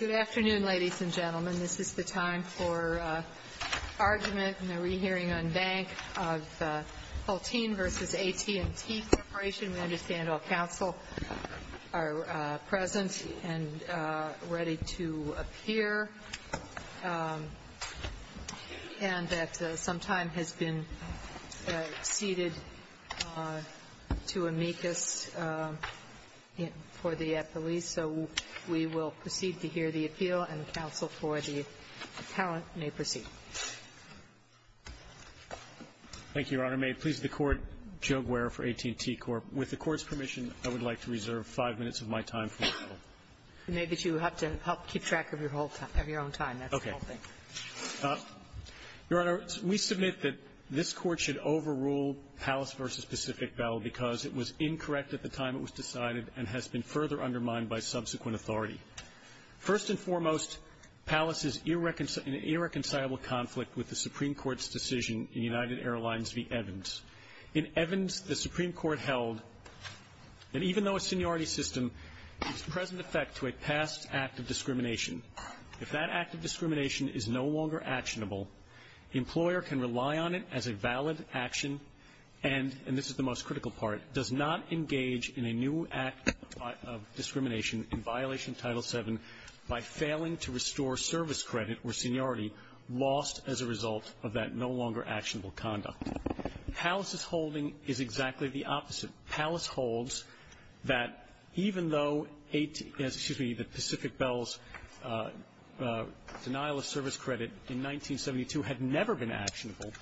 Good afternoon, ladies and gentlemen. This is the time for argument in the re-hearing on bank of Hulteen v. AT&T Corporation. We understand all counsel are present and ready to appear, and that some time has been exceeded to amicus for the police. So we will proceed to hear the appeal, and counsel for the appellant may proceed. Thank you, Your Honor. May it please the Court, Joe Guerra for AT&T Corp. With the Court's permission, I would like to reserve five minutes of my time. You may, but you have to keep track of your own time. That's the whole thing. Your Honor, we submit that this Court should overrule Pallas v. Pacific Bell because it was incorrect at the time it was decided and has been further undermined by subsequent authority. First and foremost, Pallas is in an irreconcilable conflict with the Supreme Court's decision in United Airlines v. Evans. In Evans, the Supreme Court held that even though a seniority system is present effect to a past act of discrimination, if that act of discrimination is no longer actionable, the employer can rely on it as a valid action and, and this is the most critical part, does not engage in a new act of discrimination in violation of Title VII by failing to restore service credit or seniority lost as a result of that no longer actionable conduct. Pallas' holding is exactly the opposite. Pallas holds that even though 18, excuse me, the Pacific Bell's denial of service credit in 1972 had never been actionable,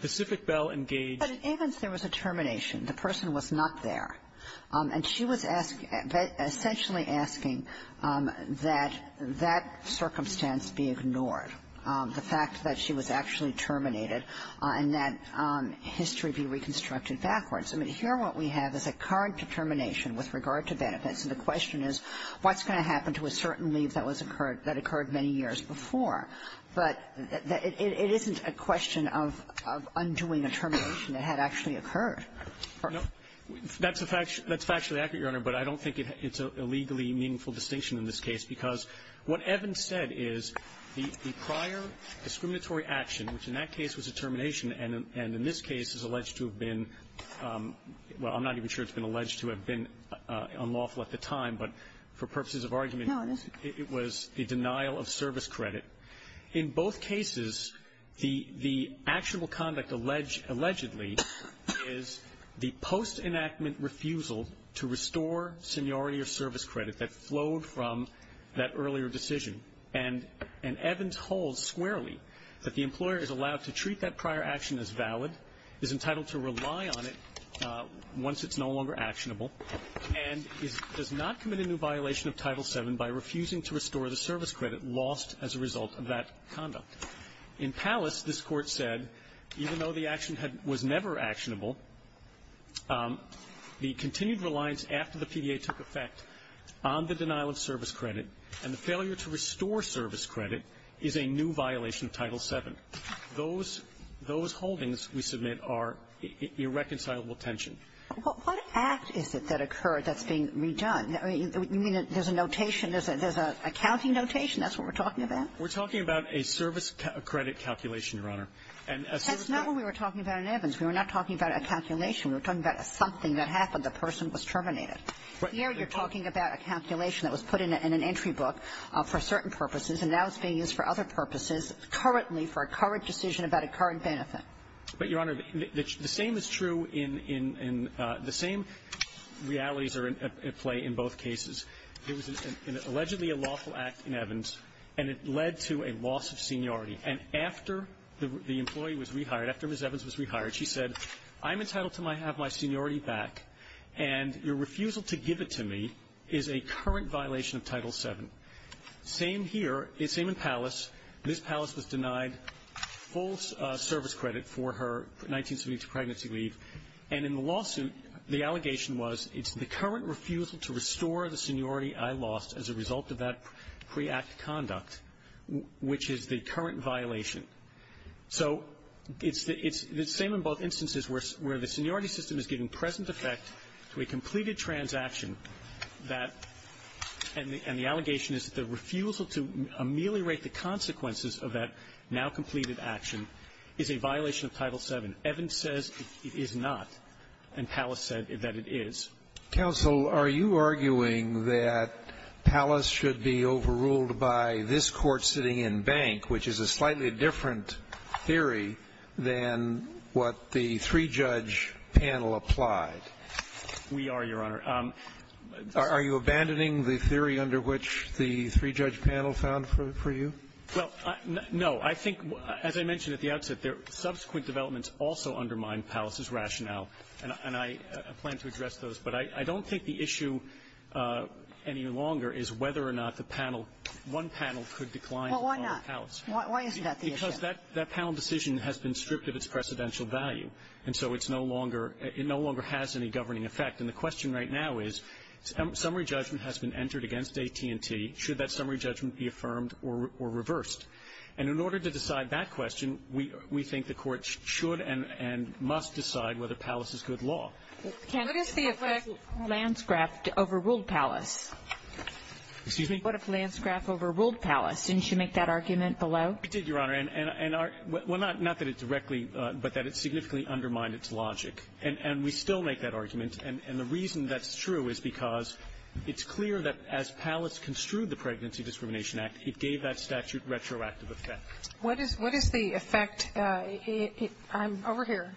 Pacific Bell engaged But in Evans, there was a termination. The person was not there. And she was asking, essentially asking that that circumstance be ignored, the fact that she was actually terminated and that history be reconstructed backwards. I mean, here what we have is a current determination with regard to benefits. And the question is, what's going to happen to a certain leave that was occurred that occurred many years before? But it isn't a question of undoing a termination. It had actually occurred. Gershengorn That's a factually accurate, Your Honor. But I don't think it's a legally meaningful distinction in this case. Because what Evans said is the prior discriminatory action, which in that case was a termination and in this case is alleged to have been, well, I'm not even sure it's been alleged to have been unlawful at the time, but for purposes of argument, it was a denial of service credit. In both cases, the actionable conduct allegedly is the post-enactment refusal to restore seniority or service credit that flowed from that earlier decision. And Evans holds squarely that the employer is allowed to treat that prior action as valid, is entitled to rely on it once it's no longer actionable, and does not commit a new violation of Title VII by refusing to restore the service credit lost as a result of that conduct. In Pallas, this Court said, even though the action was never actionable, the continued reliance after the PDA took effect on the denial of service credit and the failure to restore service credit is a new violation of Title VII. Those holdings, we submit, are irreconcilable tension. What act is it that occurred that's being redone? I mean, you mean there's a notation, there's an accounting notation, that's what we're talking about? We're talking about a service credit calculation, Your Honor. That's not what we were talking about in Evans. We were not talking about a calculation. We were talking about something that happened. The person was terminated. Here you're talking about a calculation that was put in an entry book for certain purposes, and now it's being used for other purposes, currently for a current decision about a current benefit. But, Your Honor, the same is true in the same realities are at play in both cases. There was allegedly a lawful act in Evans, and it led to a loss of seniority. And after the employee was rehired, after Ms. Evans was rehired, she said, I'm entitled to have my seniority back, and your refusal to give it to me is a current violation of Title VII. Same here, same in Pallas. Ms. Pallas was denied full service credit for her 1972 pregnancy leave. And in the lawsuit, the allegation was, it's the current refusal to restore the seniority I lost as a result of that pre-act conduct, which is the current violation. So it's the same in both instances where the seniority system is giving present effect to a completed transaction that the allegation is the refusal to ameliorate the consequences of that now-completed action is a violation of Title VII. Evans says it is not, and Pallas said that it is. Scalia. Are you arguing that Pallas should be overruled by this Court sitting in Bank, which is a slightly different theory than what the three-judge panel applied? We are, Your Honor. Are you abandoning the theory under which the three-judge panel found for you? Well, no. I think, as I mentioned at the outset, subsequent developments also undermine Pallas's rationale. And I plan to address those. But I don't think the issue any longer is whether or not the panel, one panel could decline on Pallas. Why isn't that the issue? Because that panel decision has been stripped of its precedential value. And so it's no longer – it no longer has any governing effect. And the question right now is, summary judgment has been entered against AT&T. Should that summary judgment be affirmed or reversed? And in order to decide that question, we think the Court should and must decide whether Pallas is good law. What is the effect of Lanscraft overruled Pallas? Excuse me? What if Lanscraft overruled Pallas? Didn't you make that argument below? I did, Your Honor. And our – well, not that it directly – but that it significantly undermined its logic. And we still make that argument. And the reason that's true is because it's clear that as Pallas construed the Pregnancy Discrimination Act, it gave that statute retroactive effect. What is the effect – I'm over here.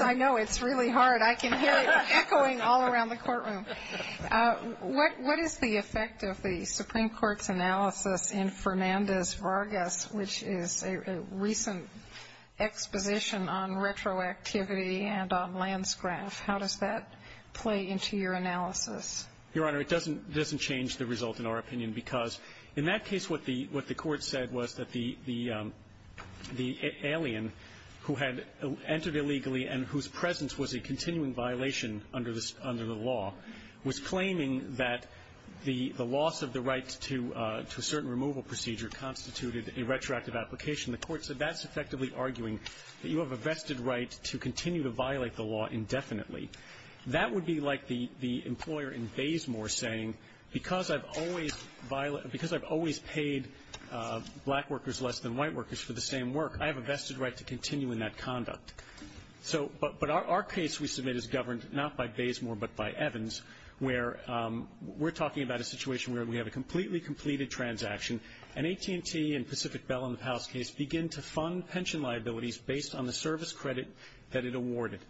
I know. It's really hard. I can hear it echoing all around the courtroom. What is the effect of the Supreme Court's analysis in Fernandez-Vargas, which is a recent exposition on retroactivity and on Lanscraft? How does that play into your analysis? Your Honor, it doesn't change the result, in our opinion, because in that case, what the Court said was that the alien who had entered illegally and whose presence was a continuing violation under the law was claiming that the loss of the right to a certain removal procedure constituted a retroactive application. The Court said that's effectively arguing that you have a vested right to continue to violate the law indefinitely. That would be like the employer in Baysmore saying, because I've always paid black workers less than white workers for the same work, I have a vested right to continue in that conduct. So – but our case, we submit, is governed not by Baysmore, but by Evans, where we're talking about a situation where we have a completely completed transaction. An AT&T and Pacific Bell in the Pallas case begin to fund pension liabilities based on the service credit that it awarded.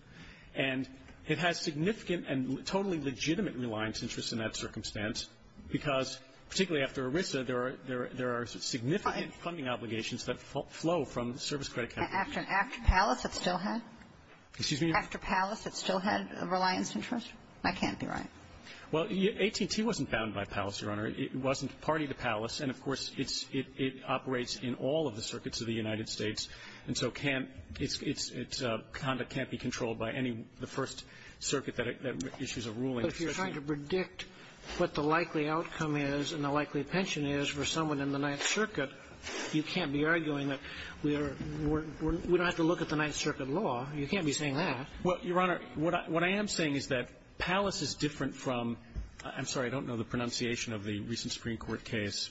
And it has significant and totally legitimate reliance interests in that circumstance because, particularly after ERISA, there are – there are significant funding obligations that flow from the service credit company. After – after Pallas, it still had? Excuse me? After Pallas, it still had reliance interest? I can't be right. Well, AT&T wasn't bound by Pallas, Your Honor. It wasn't party to Pallas. And, of course, it's – it operates in all of the circuits of the United States. And so can't – it's – its conduct can't be controlled by any – the first circuit that issues a ruling. But if you're trying to predict what the likely outcome is and the likely pension is for someone in the Ninth Circuit, you can't be arguing that we are – we don't have to look at the Ninth Circuit law. You can't be saying that. Well, Your Honor, what I am saying is that Pallas is different from – I'm sorry. I don't know the pronunciation of the recent Supreme Court case.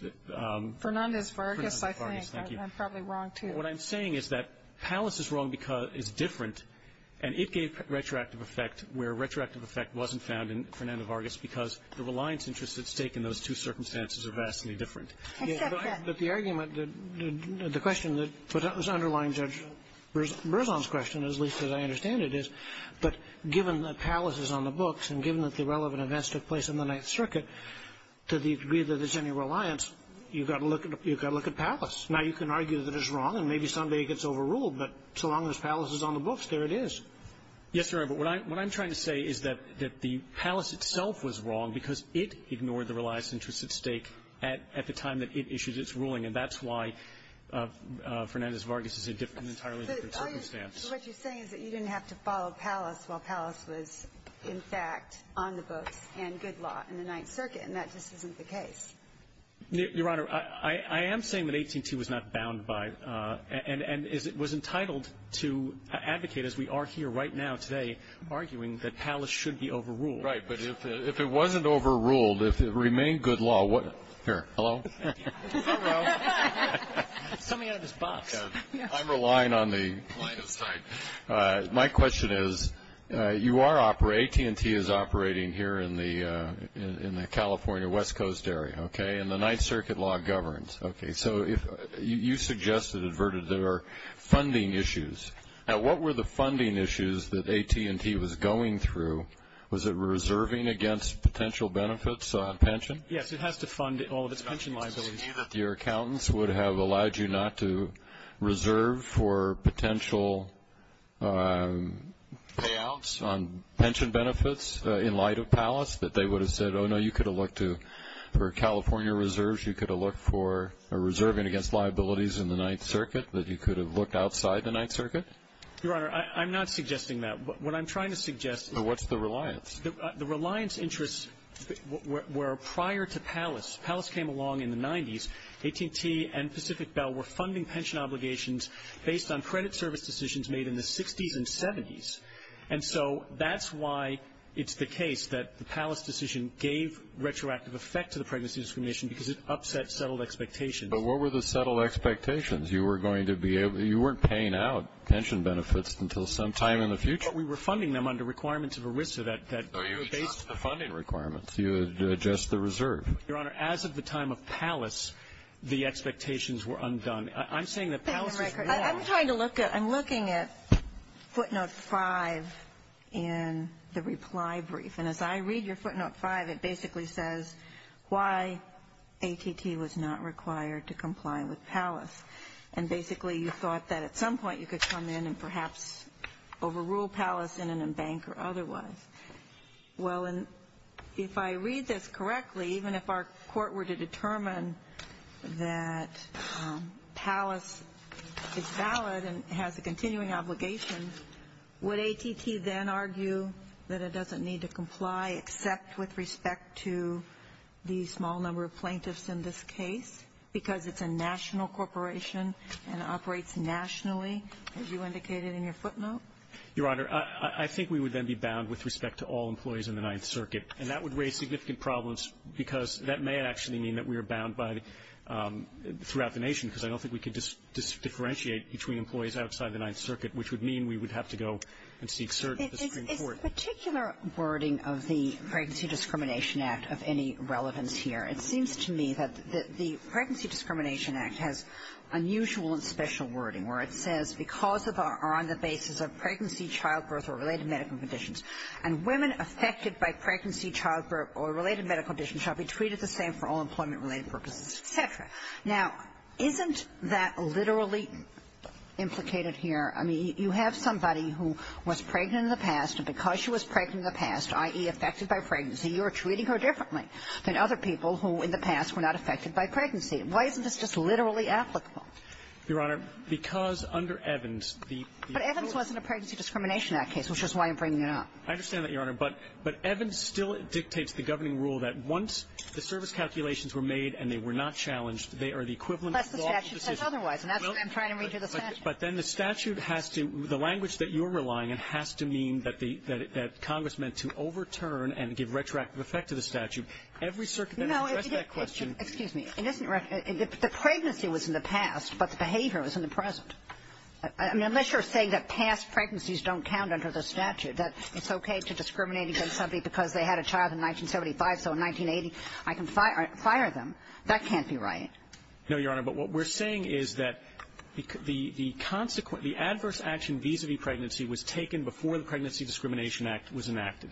Fernandez-Vargas, I think. Thank you. I'm probably wrong, too. What I'm saying is that Pallas is wrong because it's different. And it gave retroactive effect where retroactive effect wasn't found in Fernandez-Vargas because the reliance interest at stake in those two circumstances are vastly different. I accept that. But the argument that – the question that was underlying Judge Berzon's question, as least as I understand it, is, but given that Pallas is on the books and given that the relevant events took place in the Ninth Circuit, to the degree that there's any reliance, you've got to look at – you've got to look at Pallas. Now, you can argue that it's wrong, and maybe someday it gets overruled, but so long as Pallas is on the books, there it is. Yes, Your Honor. But what I'm trying to say is that the Pallas itself was wrong because it ignored the reliance interest at stake at the time that it issued its ruling, and that's why Fernandez-Vargas is a different – an entirely different circumstance. But what you're saying is that you didn't have to follow Pallas while Pallas was, in fact, on the books and good law in the Ninth Circuit, and that just isn't the case. Your Honor, I am saying that AT&T was not bound by – and was entitled to advocate, as we are here right now today, arguing that Pallas should be overruled. Right, but if it wasn't overruled, if it remained good law, what – here, hello? Hello. Something out of this box. I'm relying on the line of sight. My question is, you are – AT&T is operating here in the California West Coast area, okay, and the Ninth Circuit law governs, okay. So if – you suggested, adverted, there are funding issues. Now, what were the funding issues that AT&T was going through? Was it reserving against potential benefits on pension? Yes, it has to fund all of its pension liabilities. Your accountants would have allowed you not to reserve for potential payouts on pension benefits in light of Pallas, that they would have said, oh, no, you could have looked to – for California reserves, you could have looked for – or reserving against liabilities in the Ninth Circuit, that you could have looked outside the Ninth Circuit? Your Honor, I'm not suggesting that. What I'm trying to suggest is – So what's the reliance? The reliance interests were prior to Pallas. Pallas came along in the 90s. AT&T and Pacific Bell were funding pension obligations based on credit service decisions made in the 60s and 70s. And so that's why it's the case that the Pallas decision gave retroactive effect to the pregnancy discrimination, because it upset settled expectations. But what were the settled expectations? You were going to be able – you weren't paying out pension benefits until some time in the future. But we were funding them under requirements of ERISA that were based on the funding requirements. You would adjust the reserve. Your Honor, as of the time of Pallas, the expectations were undone. I'm saying that Pallas is wrong. I'm trying to look at – I'm looking at footnote 5 in the reply brief, and as I AT&T was not required to comply with Pallas. And basically you thought that at some point you could come in and perhaps overrule Pallas in an embankment or otherwise. Well, if I read this correctly, even if our court were to determine that Pallas is valid and has a continuing obligation, would AT&T then argue that it doesn't need to comply except with respect to the small number of plaintiffs in this case, because it's a national corporation and operates nationally, as you indicated in your footnote? Your Honor, I think we would then be bound with respect to all employees in the Ninth Circuit. And that would raise significant problems, because that may actually mean that we are bound by the – throughout the nation, because I don't think we could differentiate between employees outside the Ninth Circuit, which would mean we would have to go and seek cert at the Supreme Court. Kagan. It's particular wording of the Pregnancy Discrimination Act of any relevance here. It seems to me that the Pregnancy Discrimination Act has unusual and special wording, where it says, because of or on the basis of pregnancy, childbirth or related medical conditions, and women affected by pregnancy, childbirth or related medical conditions shall be treated the same for all employment-related purposes, et cetera. Now, isn't that literally implicated here? I mean, you have somebody who was pregnant in the past, and because she was pregnant in the past, i.e., affected by pregnancy, you're treating her differently than other people who, in the past, were not affected by pregnancy. Why isn't this just literally applicable? Your Honor, because under Evans, the rules of the Pregnancy Discrimination Act case, which is why I'm bringing it up. I understand that, Your Honor. But – but Evans still dictates the governing rule that once the service calculations were made and they were not challenged, they are the equivalent of lawful decisions. Well, that's the statute says otherwise, and that's why I'm trying to read you the statute. The statute has to – the language that you're relying on has to mean that the – that Congress meant to overturn and give retroactive effect to the statute. Every circumstance to address that question – No, it's just – excuse me. It isn't – the pregnancy was in the past, but the behavior was in the present. I mean, unless you're saying that past pregnancies don't count under the statute, that it's okay to discriminate against somebody because they had a child in 1975, so in 1980 I can fire them, that can't be right. No, Your Honor. But what we're saying is that the – the consequence – the adverse action vis-a-vis pregnancy was taken before the Pregnancy Discrimination Act was enacted.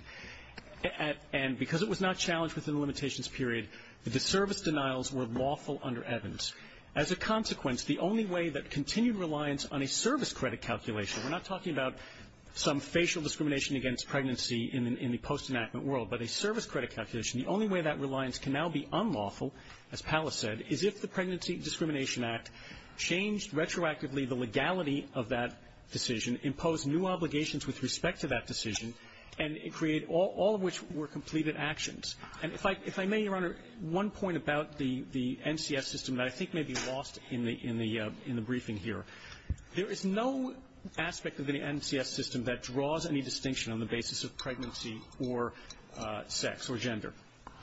And because it was not challenged within the limitations period, the disservice denials were lawful under Evans. As a consequence, the only way that continued reliance on a service credit calculation – we're not talking about some facial discrimination against pregnancy in the post-enactment world, but a service credit calculation – the only way that reliance can now be unlawful, as Pallas said, is if the Pregnancy Discrimination Act changed retroactively the legality of that decision, imposed new obligations with respect to that decision, and it created – all of which were completed actions. And if I – if I may, Your Honor, one point about the – the NCS system that I think may be lost in the – in the briefing here. There is no aspect of the NCS system that draws any distinction on the basis of pregnancy or sex or gender.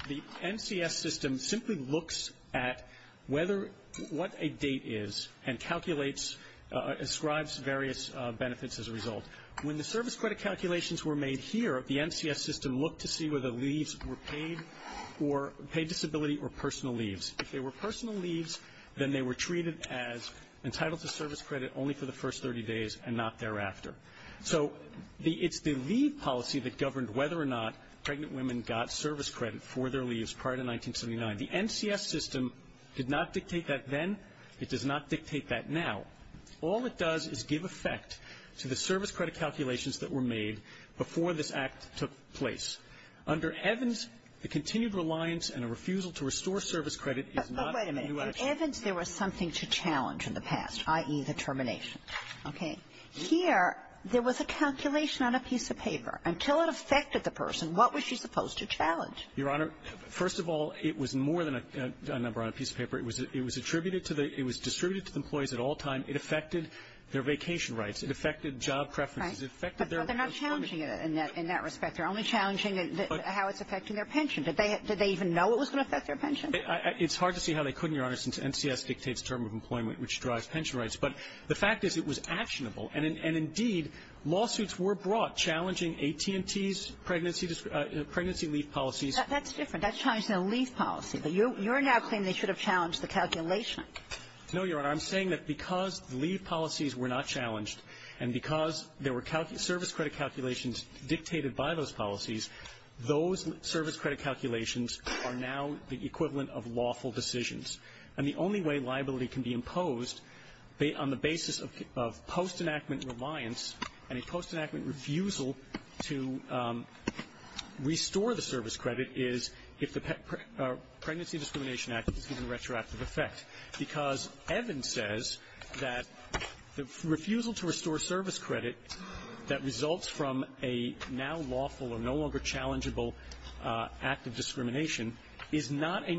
The NCS system simply looks at whether – what a date is and calculates – ascribes various benefits as a result. When the service credit calculations were made here, the NCS system looked to see whether the leaves were paid or – paid disability or personal leaves. If they were personal leaves, then they were treated as entitled to service credit only for the first 30 days and not thereafter. So the – it's the leave policy that governed whether or not pregnant women got service credit for their leaves prior to 1979. The NCS system did not dictate that then. It does not dictate that now. All it does is give effect to the service credit calculations that were made before this Act took place. Under Evans, the continued reliance and a refusal to restore service credit is not a new action. But wait a minute. In Evans, there was something to challenge in the past, i.e., the termination. Okay. Here, there was a calculation on a piece of paper. Until it affected the person, what was she supposed to challenge? Your Honor, first of all, it was more than a number on a piece of paper. It was – it was attributed to the – it was distributed to the employees at all time. It affected their vacation rights. It affected job preferences. It affected their – But they're not challenging it in that – in that respect. They're only challenging how it's affecting their pension. Did they – did they even know it was going to affect their pension? It's hard to see how they couldn't, Your Honor, since NCS dictates term of employment which drives pension rights. But the fact is, it was actionable. And indeed, lawsuits were brought challenging AT&T's pregnancy leave policies. That's different. That's challenging the leave policy. But you're now claiming they should have challenged the calculation. No, Your Honor. I'm saying that because the leave policies were not challenged, and because there were service credit calculations dictated by those policies, those service credit calculations are now the equivalent of lawful decisions. And the only way liability can be imposed on the basis of post-enactment reliance and a post-enactment refusal to restore the service credit is if the Pregnancy Discrimination Act is given retroactive effect, because Evan says that the refusal to restore service credit that results from a now lawful or no longer is not a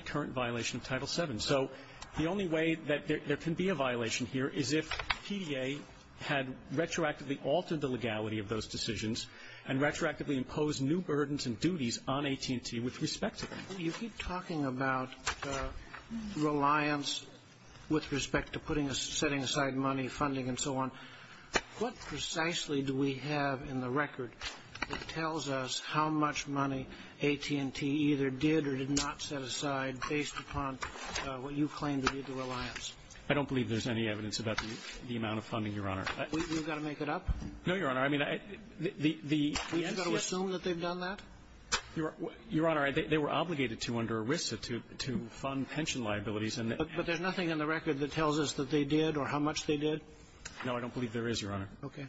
current violation of Title VII. So the only way that there can be a violation here is if PDA had retroactively altered the legality of those decisions and retroactively imposed new burdens and duties on AT&T with respect to that. You keep talking about reliance with respect to putting a setting aside money, funding, and so on. What precisely do we have in the record that tells us how much money AT&T either did or did not set aside based upon what you claim to be the reliance? I don't believe there's any evidence about the amount of funding, Your Honor. You've got to make it up? No, Your Honor. I mean, the entity assume that they've done that? Your Honor, they were obligated to under WISA to fund pension liabilities. But there's nothing in the record that tells us that they did or how much they did? No, I don't believe there is, Your Honor. Okay.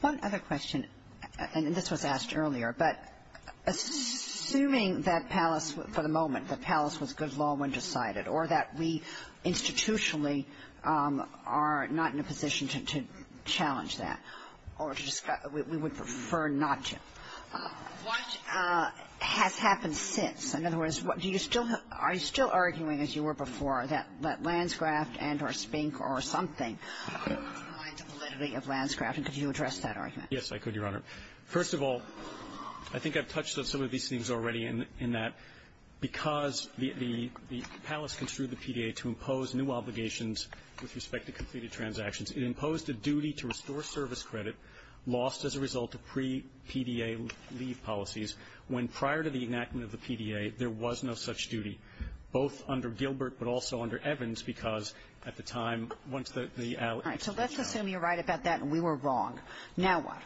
One other question, and this was asked earlier, but assuming that Palace, for the moment, that Palace was good law when decided or that we institutionally are not in a position to challenge that or to discuss we would prefer not to, what has happened since? In other words, do you still have are you still arguing, as you were before, that the validity of Lanscraft? And could you address that argument? Yes, I could, Your Honor. First of all, I think I've touched on some of these things already in that because the Palace construed the PDA to impose new obligations with respect to completed transactions, it imposed a duty to restore service credit lost as a result of pre-PDA leave policies when, prior to the enactment of the PDA, there was no such duty, both under Gilbert but also under Evans, because at the time, once the allies agreed, so let's assume you're right about that and we were wrong. Now what?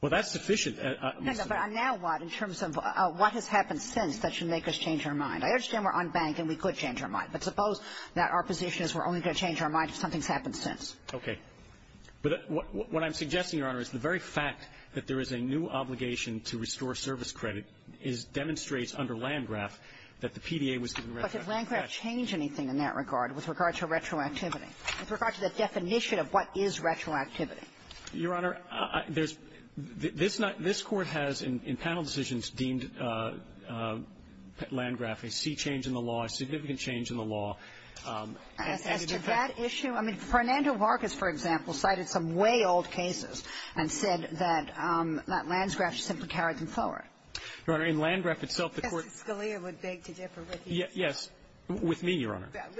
Well, that's sufficient. No, no, but now what in terms of what has happened since that should make us change our mind? I understand we're unbanked and we could change our mind, but suppose that our position is we're only going to change our mind if something's happened since. Okay. But what I'm suggesting, Your Honor, is the very fact that there is a new obligation to restore service credit is – demonstrates under Lanscraft that the PDA was given retroactivity. But did Lanscraft change anything in that regard with regard to retroactivity? With regard to the definition of what is retroactivity? Your Honor, there's – this not – this Court has, in panel decisions, deemed Lanscraft a sea change in the law, a significant change in the law. As to that issue, I mean, Fernando Vargas, for example, cited some way old cases and said that Lanscraft simply carried them forward. Your Honor, in Lanscraft itself, the Court – Scalia would beg to differ with you. Yes. With me, Your Honor. That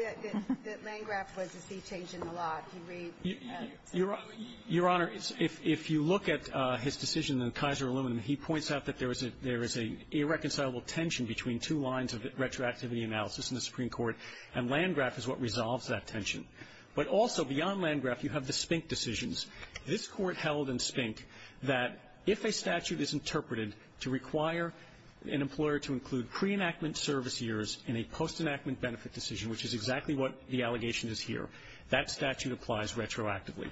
Lanscraft was a sea change in the law, if you read – Your Honor, if you look at his decision in the Kaiser Aluminum, he points out that there is a – there is a irreconcilable tension between two lines of retroactivity analysis in the Supreme Court, and Lanscraft is what resolves that tension. But also, beyond Lanscraft, you have the Spink decisions. This Court held in Spink that if a statute is interpreted to require an employer to include pre-enactment service years in a post-enactment benefit decision, which is exactly what the allegation is here, that statute applies retroactively.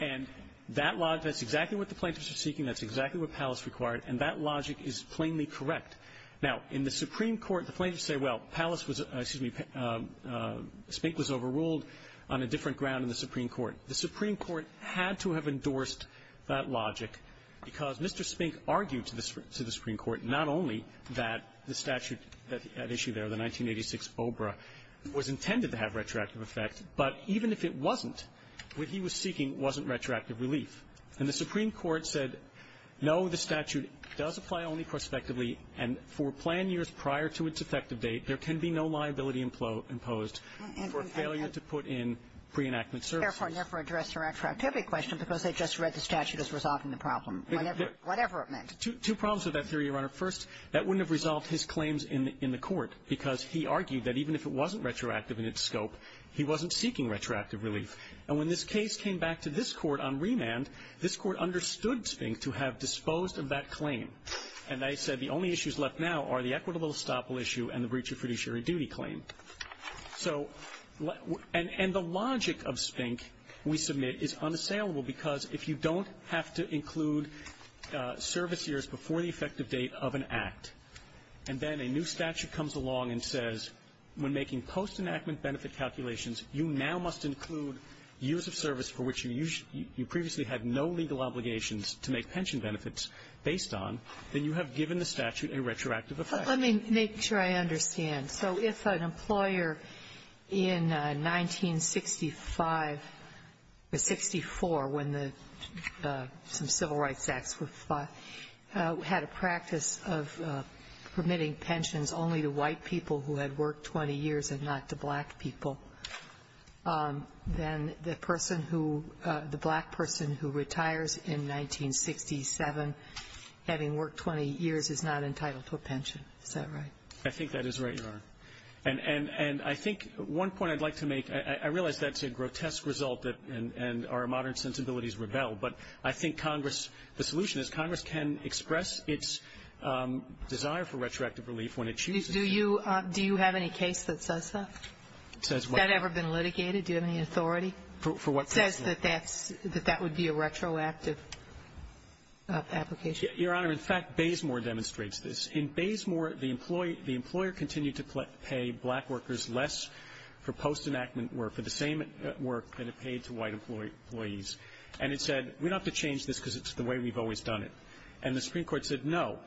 And that – that's exactly what the plaintiffs are seeking. That's exactly what Pallis required. And that logic is plainly correct. Now, in the Supreme Court, the plaintiffs say, well, Pallis was – excuse me, Spink was overruled on a different ground in the Supreme Court. The Supreme Court had to have endorsed that logic because Mr. Spink argued to the Supreme Court not only that the statute at issue there, the 1986 OBRA, was intended to have retroactive effect, but even if it wasn't, what he was seeking wasn't retroactive relief. And the Supreme Court said, no, the statute does apply only prospectively, and for plan years prior to its effective date, there can be no liability imposed for failure to put in pre-enactment service. Therefore, I never addressed your retroactivity question because I just read the statute as resolving the problem, whatever it meant. Two problems with that theory, Your Honor. First, that wouldn't have resolved his claims in the court because he argued that even if it wasn't retroactive in its scope, he wasn't seeking retroactive relief. And when this case came back to this Court on remand, this Court understood Spink to have disposed of that claim. And they said the only issues left now are the equitable estoppel issue and the breach of fiduciary duty claim. So – and the logic of Spink, we submit, is unassailable because if you don't have to include service years before the effective date of an act, and then a new statute comes along and says, when making post-enactment benefit calculations, you now must include years of service for which you previously had no legal obligations to make pension benefits based on, then you have given the statute a retroactive effect. Sotomayor. Let me make sure I understand. So if an employer in 1965 or 64, when the civil rights acts were fought, had a practice of permitting pensions only to white people who had worked 20 years and not to black people, then the person who – the black person who retires in 1967, having worked 20 years, is not entitled to a pension. Is that right? I think that is right, Your Honor. And – and I think one point I'd like to make, I realize that's a grotesque result that – and our modern sensibilities rebel, but I think Congress – the solution is Congress can express its desire for retroactive relief when it chooses to. Do you – do you have any case that says that? It says what? Has that ever been litigated? Do you have any authority? For what purpose? It says that that's – that that would be a retroactive application. Your Honor, in fact, Baysmore demonstrates this. In Baysmore, the employee – the employer continued to pay black workers less for post-enactment work, for the same work that it paid to white employees. And it said, we don't have to change this because it's the way we've always done it. And the Supreme Court said, no.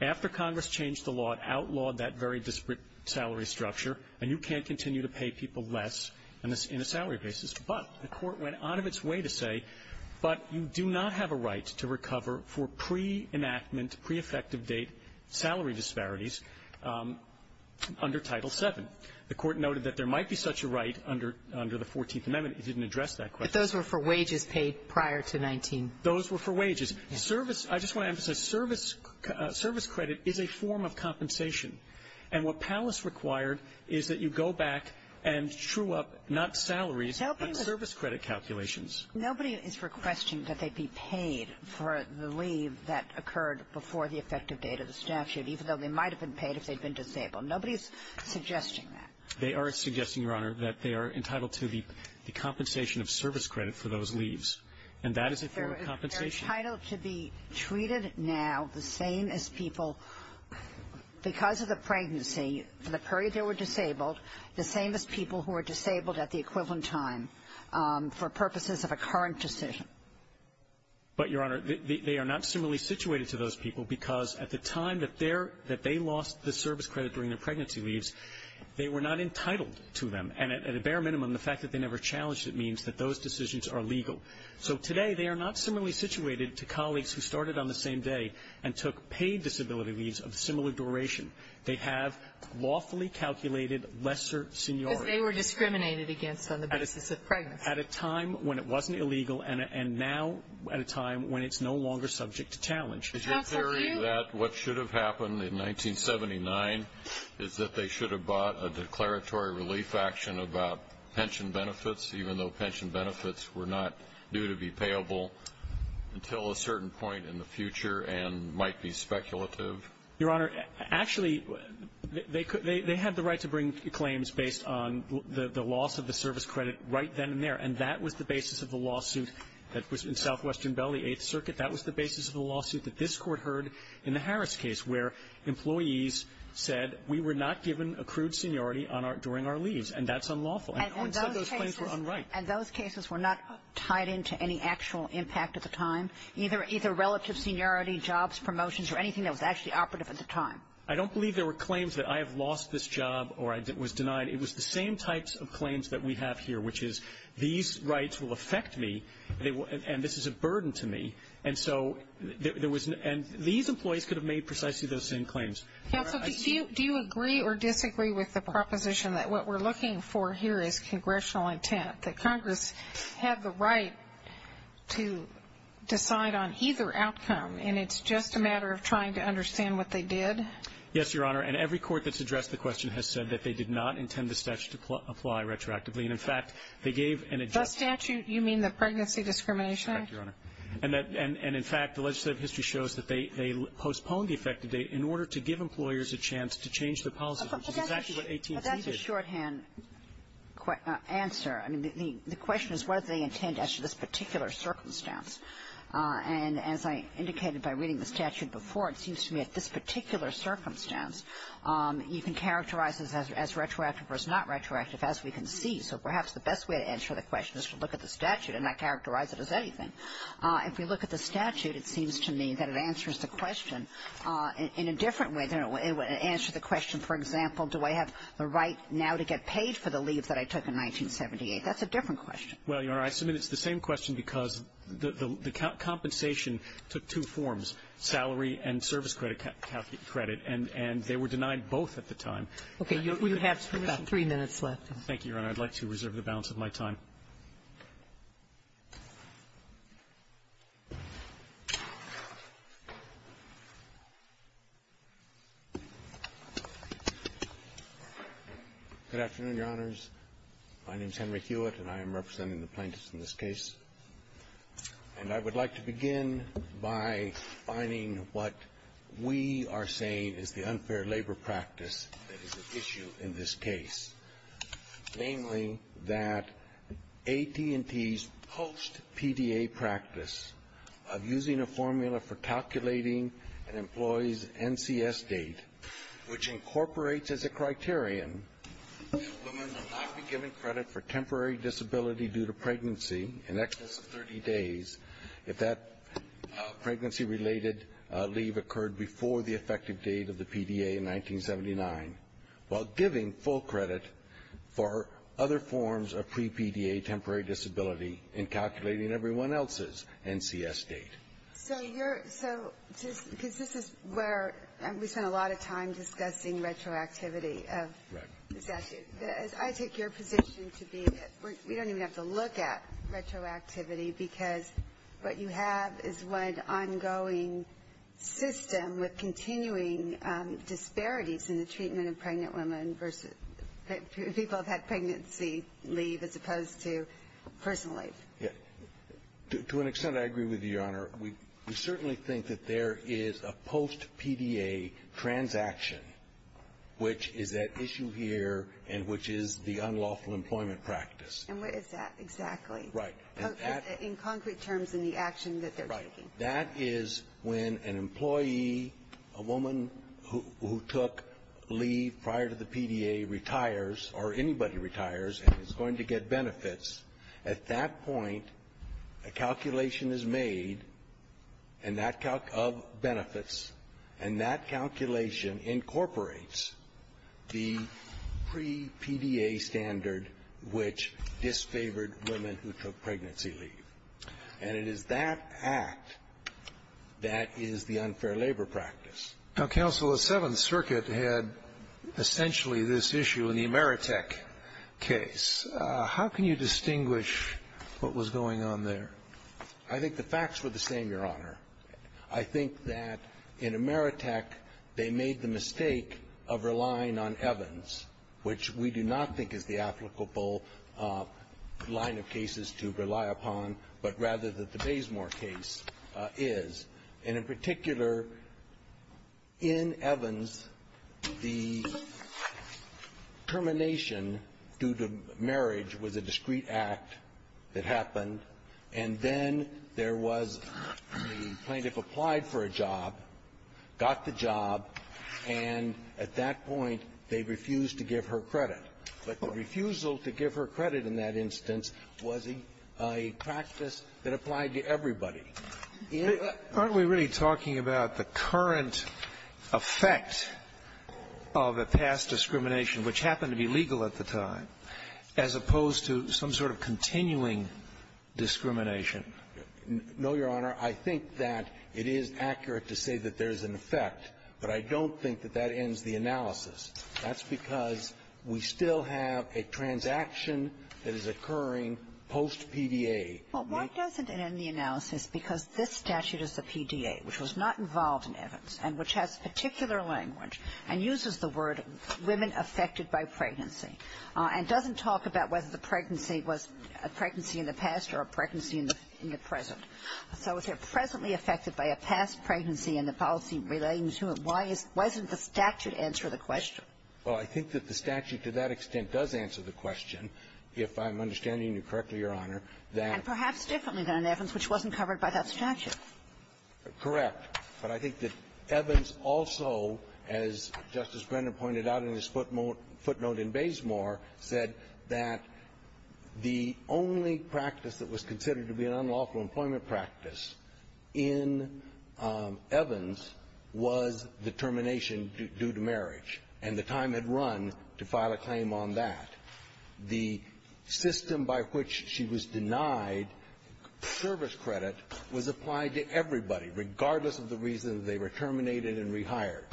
After Congress changed the law, it outlawed that very disparate salary structure, and you can't continue to pay people less in a – in a salary basis. But the Court went out of its way to say, but you do not have a right to recover for pre-enactment, pre-effective date salary disparities under Title VII. The Court noted that there might be such a right under – under the 14th Amendment. It didn't address that question. But those were for wages paid prior to 19. Those were for wages. Service – I just want to emphasize, service – service credit is a form of compensation. And what Pallis required is that you go back and true up not salaries, but service credit calculations. Nobody is requesting that they be paid for the leave that occurred before the effective date of the statute, even though they might have been paid if they'd been disabled. Nobody's suggesting that. They are suggesting, Your Honor, that they are entitled to the – the compensation of service credit for those leaves. And that is a form of compensation. They're entitled to be treated now the same as people – because of the pregnancy, for the period they were disabled, the same as people who were disabled at the basis of a current decision. But, Your Honor, they are not similarly situated to those people because at the time that they're – that they lost the service credit during their pregnancy leaves, they were not entitled to them. And at a bare minimum, the fact that they never challenged it means that those decisions are legal. So today, they are not similarly situated to colleagues who started on the same day and took paid disability leaves of similar duration. They have lawfully calculated lesser seniority. Because they were discriminated against on the basis of pregnancy. At a time when it wasn't illegal and now at a time when it's no longer subject to challenge. Is your theory that what should have happened in 1979 is that they should have bought a declaratory relief action about pension benefits, even though pension benefits were not due to be payable until a certain point in the future and might be speculative? Your Honor, actually, they – they had the right to bring claims based on the loss of And that was the basis of the lawsuit that was in Southwestern Belle, the Eighth Circuit. That was the basis of the lawsuit that this Court heard in the Harris case, where employees said we were not given accrued seniority on our – during our leaves. And that's unlawful. And who said those claims were unright? And those cases were not tied into any actual impact at the time, either – either relative seniority, jobs, promotions, or anything that was actually operative at the time? I don't believe there were claims that I have lost this job or I was denied. It was the same types of claims that we have here, which is these rights will affect me, and this is a burden to me. And so there was – and these employees could have made precisely those same claims. Counsel, do you agree or disagree with the proposition that what we're looking for here is congressional intent, that Congress had the right to decide on either outcome, and it's just a matter of trying to understand what they did? Yes, Your Honor. And every court that's addressed the question has said that they did not intend the statute to apply retroactively. And, in fact, they gave an adjustment. The statute? You mean the Pregnancy Discrimination Act? Correct, Your Honor. And that – and in fact, the legislative history shows that they – they postponed the effective date in order to give employers a chance to change their policies, which is exactly what AT&T did. But that's a shorthand answer. I mean, the question is what do they intend as to this particular circumstance. And as I indicated by reading the statute before, it seems to me at this particular circumstance, you can characterize it as retroactive or as not retroactive as we can see. So perhaps the best way to answer the question is to look at the statute and not characterize it as anything. If we look at the statute, it seems to me that it answers the question in a different way than it would answer the question, for example, do I have the right now to get paid for the leave that I took in 1978? That's a different question. Well, Your Honor, I submit it's the same question because the compensation took two forms, salary and service credit, and they were denied both at the time. Okay. You have about three minutes left. Thank you, Your Honor. I'd like to reserve the balance of my time. Good afternoon, Your Honors. My name is Henry Hewitt, and I am representing the plaintiffs in this case. And I would like to begin by finding what we are saying is the unfair labor practice that is at issue in this case, namely that AT&T's post-PDA practice of using a formula for calculating an employee's NCS date, which incorporates as a criterion that women will not be given credit for temporary disability due to pregnancy in excess of 30 days if that pregnancy-related leave occurred before the effective date of the PDA in 1979, while giving full credit for other forms of pre-PDA temporary disability in calculating everyone else's NCS date. So you're so because this is where we spend a lot of time discussing retroactivity of the statute. I take your position to be we don't even have to look at retroactivity because what you have is one ongoing system with continuing disparities in the treatment of pregnant women versus people who have had pregnancy leave as opposed to personal leave. To an extent, I agree with you, Your Honor. We certainly think that there is a post-PDA transaction, which is at issue here in this case, and which is the unlawful employment practice. And what is that exactly? Right. In concrete terms, in the action that they're taking. Right. That is when an employee, a woman who took leave prior to the PDA, retires or anybody retires and is going to get benefits. At that point, a calculation is made of benefits, and that calculation incorporates the pre-PDA standard which disfavored women who took pregnancy leave. And it is that act that is the unfair labor practice. Now, Counsel, the Seventh Circuit had essentially this issue in the Emeritec case. How can you distinguish what was going on there? I think the facts were the same, Your Honor. I think that in Emeritec, they made the mistake of relying on Evans, which we do not think is the applicable line of cases to rely upon, but rather that the Basemore case is. And in particular, in Evans, the termination due to marriage was a discreet act that the plaintiff applied for a job, got the job, and at that point, they refused to give her credit. But the refusal to give her credit in that instance was a practice that applied to everybody. Aren't we really talking about the current effect of a past discrimination which happened to be legal at the time as opposed to some sort of continuing discrimination? No, Your Honor. I think that it is accurate to say that there's an effect, but I don't think that that ends the analysis. That's because we still have a transaction that is occurring post-PDA. Well, why doesn't it end the analysis? Because this statute is the PDA, which was not involved in Evans, and which has particular language and uses the word women affected by pregnancy, and doesn't talk about whether the pregnancy was a pregnancy in the past or a pregnancy in the present. So if they're presently affected by a past pregnancy and the policy relating to it, why isn't the statute answer the question? Well, I think that the statute, to that extent, does answer the question, if I'm understanding you correctly, Your Honor, that the statute does answer the question. Correct. But I think that Evans also, as Justice Brennan pointed out in his footnote in Basemore, said that the only practice that was considered to be an unlawful employment practice in Evans was the termination due to marriage, and the time had run to file a claim on that. The system by which she was denied service credit was applied to everybody, regardless of the reason they were terminated and rehired.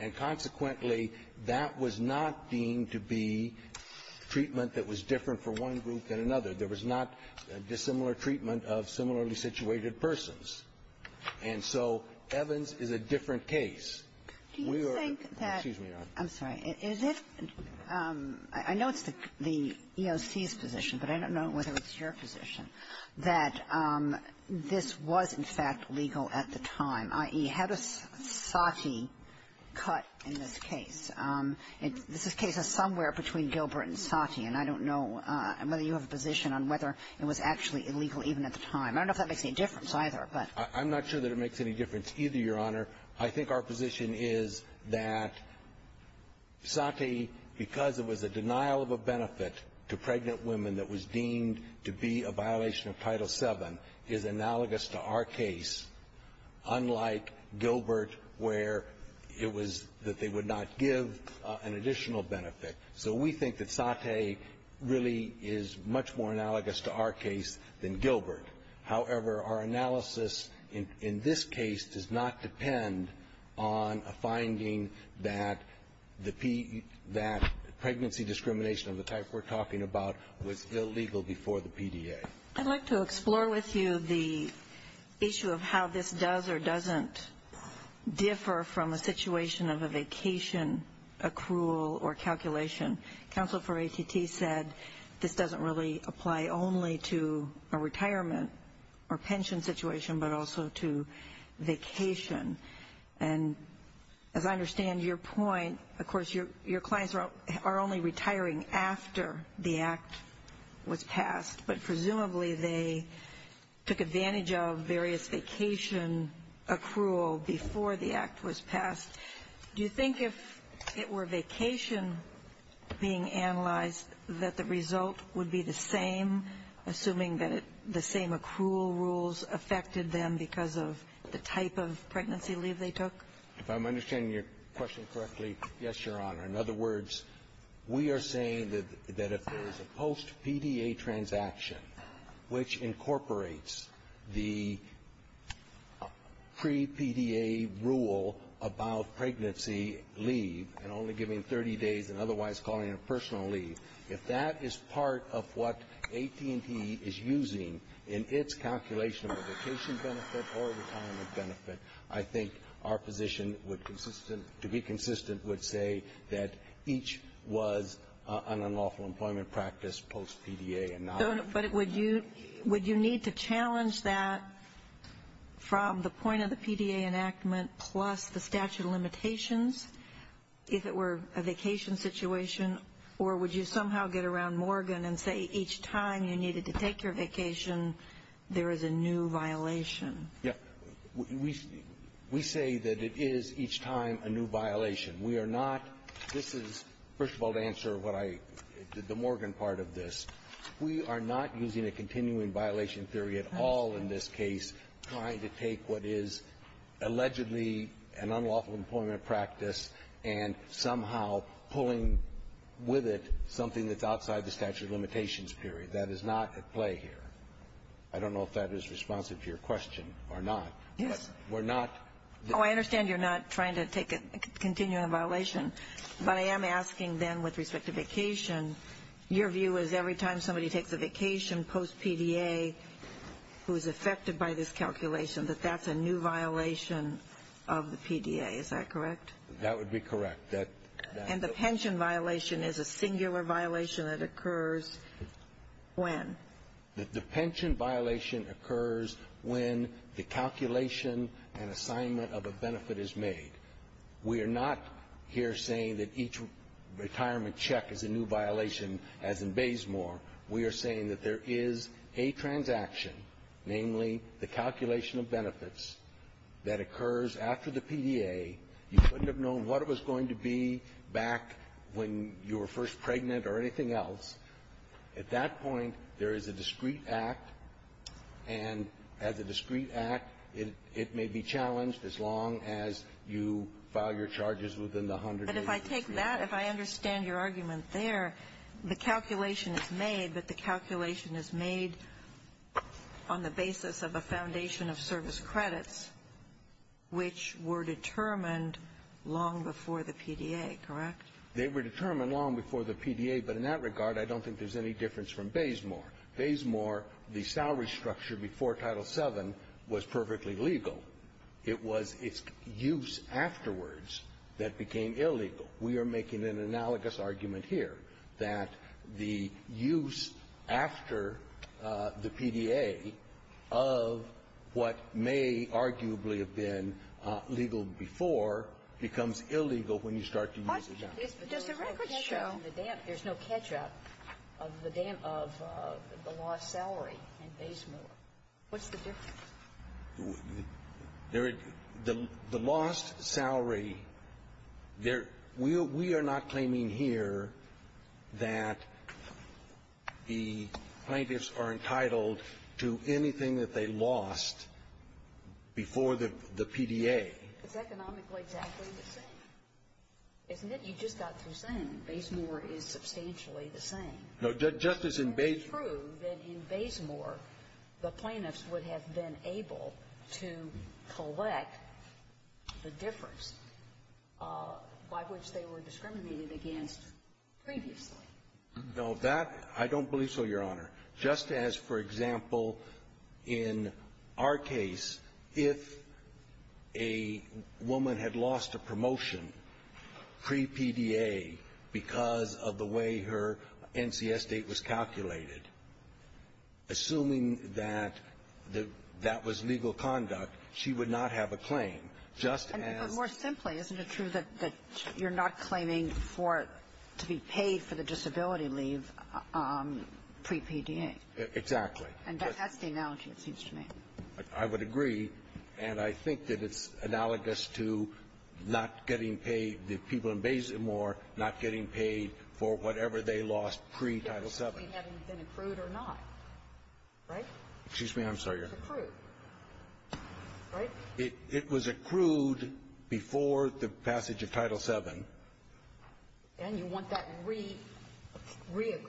And consequently, that was not deemed to be treatment that was different for one group than another. There was not a dissimilar treatment of similarly situated persons. And so Evans is a different case. We are the --. Do you think that -- excuse me, Your Honor. I'm sorry. Is it the EOC's position, but I don't know whether it's your position, that this was, in fact, legal at the time, i.e., had a SOTI cut in this case? This is cases somewhere between Gilbert and SOTI, and I don't know whether you have a position on whether it was actually illegal even at the time. I don't know if that makes any difference, either, but -- I'm not sure that it makes any difference either, Your Honor. I think our position is that SOTI, because it was a denial of a benefit to pregnant women that was deemed to be a violation of Title VII, is analogous to our case, unlike Gilbert, where it was that they would not give an additional benefit. So we think that SOTI really is much more analogous to our case than Gilbert. However, our analysis in this case does not depend on a finding that the P -- that was illegal before the PDA. I'd like to explore with you the issue of how this does or doesn't differ from a situation of a vacation accrual or calculation. Counsel for ATT said this doesn't really apply only to a retirement or pension situation, but also to vacation. And as I understand your point, of course, your clients are only retiring after the act was passed. But presumably, they took advantage of various vacation accrual before the act was passed. Do you think if it were vacation being analyzed, that the result would be the same, assuming that the same accrual rules affected them because of the type of pregnancy leave they took? If I'm understanding your question correctly, yes, Your Honor. In other words, we are saying that if there is a post-PDA transaction which incorporates the pre-PDA rule about pregnancy leave and only giving 30 days and otherwise calling it a personal leave, if that is part of what AT&T is using in its calculation of a vacation benefit or a retirement benefit, I think our position would be consistent would say that each was an unlawful employment practice post-PDA and not unlawful employment. But would you need to challenge that from the point of the PDA enactment plus the statute limitations if it were a vacation situation? Or would you somehow get around Morgan and say each time you needed to take your vacation, there is a new violation? Yeah. We say that it is each time a new violation. We are not – this is, first of all, to answer what I – the Morgan part of this. We are not using a continuing violation theory at all in this case trying to take what is allegedly an unlawful employment practice and somehow pulling with it something that's outside the statute of limitations theory. That is not at play here. I don't know if that is responsive to your question or not. Yes. But we're not – Oh, I understand you're not trying to take a continuing violation. But I am asking, then, with respect to vacation, your view is every time somebody takes a vacation post-PDA who is affected by this calculation, that that's a new violation of the PDA, is that correct? That would be correct. And the pension violation is a singular violation that occurs when? The pension violation occurs when the calculation and assignment of a benefit is made. We are not here saying that each retirement check is a new violation, as in Baysmore. We are saying that there is a transaction, namely, the calculation of benefits, that occurs after the PDA. You couldn't have known what it was going to be back when you were first pregnant or anything else. At that point, there is a discrete act, and as a discrete act, it may be challenged as long as you file your charges within the 100 days of the statement. If I understand your argument there, the calculation is made, but the calculation is made on the basis of a foundation of service credits, which were determined long before the PDA, correct? They were determined long before the PDA, but in that regard, I don't think there's any difference from Baysmore. Baysmore, the salary structure before Title VII was perfectly legal. It was its use afterwards that became illegal. We are making an analogous argument here, that the use after the PDA of what may arguably have been legal before becomes illegal when you start to use it now. Does the record show the damp? There's no catch-up of the damp of the lost salary in Baysmore. What's the difference? The lost salary, we are not claiming here that the plaintiffs are entitled to anything that they lost before the PDA. It's economically exactly the same. Isn't it? You just got through saying Baysmore is substantially the same. No, Justice, in Baysmore — No, that — I don't believe so, Your Honor. Just as, for example, in our case, if a woman had lost a promotion pre-PDA because of the way her NCS date was calculated, assuming that the — that was the case, that was the case, that was the case, that was legal conduct, she would not have a claim, just as — But more simply, isn't it true that you're not claiming for it to be paid for the disability leave pre-PDA? Exactly. And that's the analogy, it seems to me. I would agree. And I think that it's analogous to not getting paid — the people in Baysmore not getting paid for whatever they lost pre-Title VII. Having been accrued or not, right? Excuse me. I'm sorry, Your Honor. It was accrued, right? It was accrued before the passage of Title VII. And you want that re-accrued, recalculated.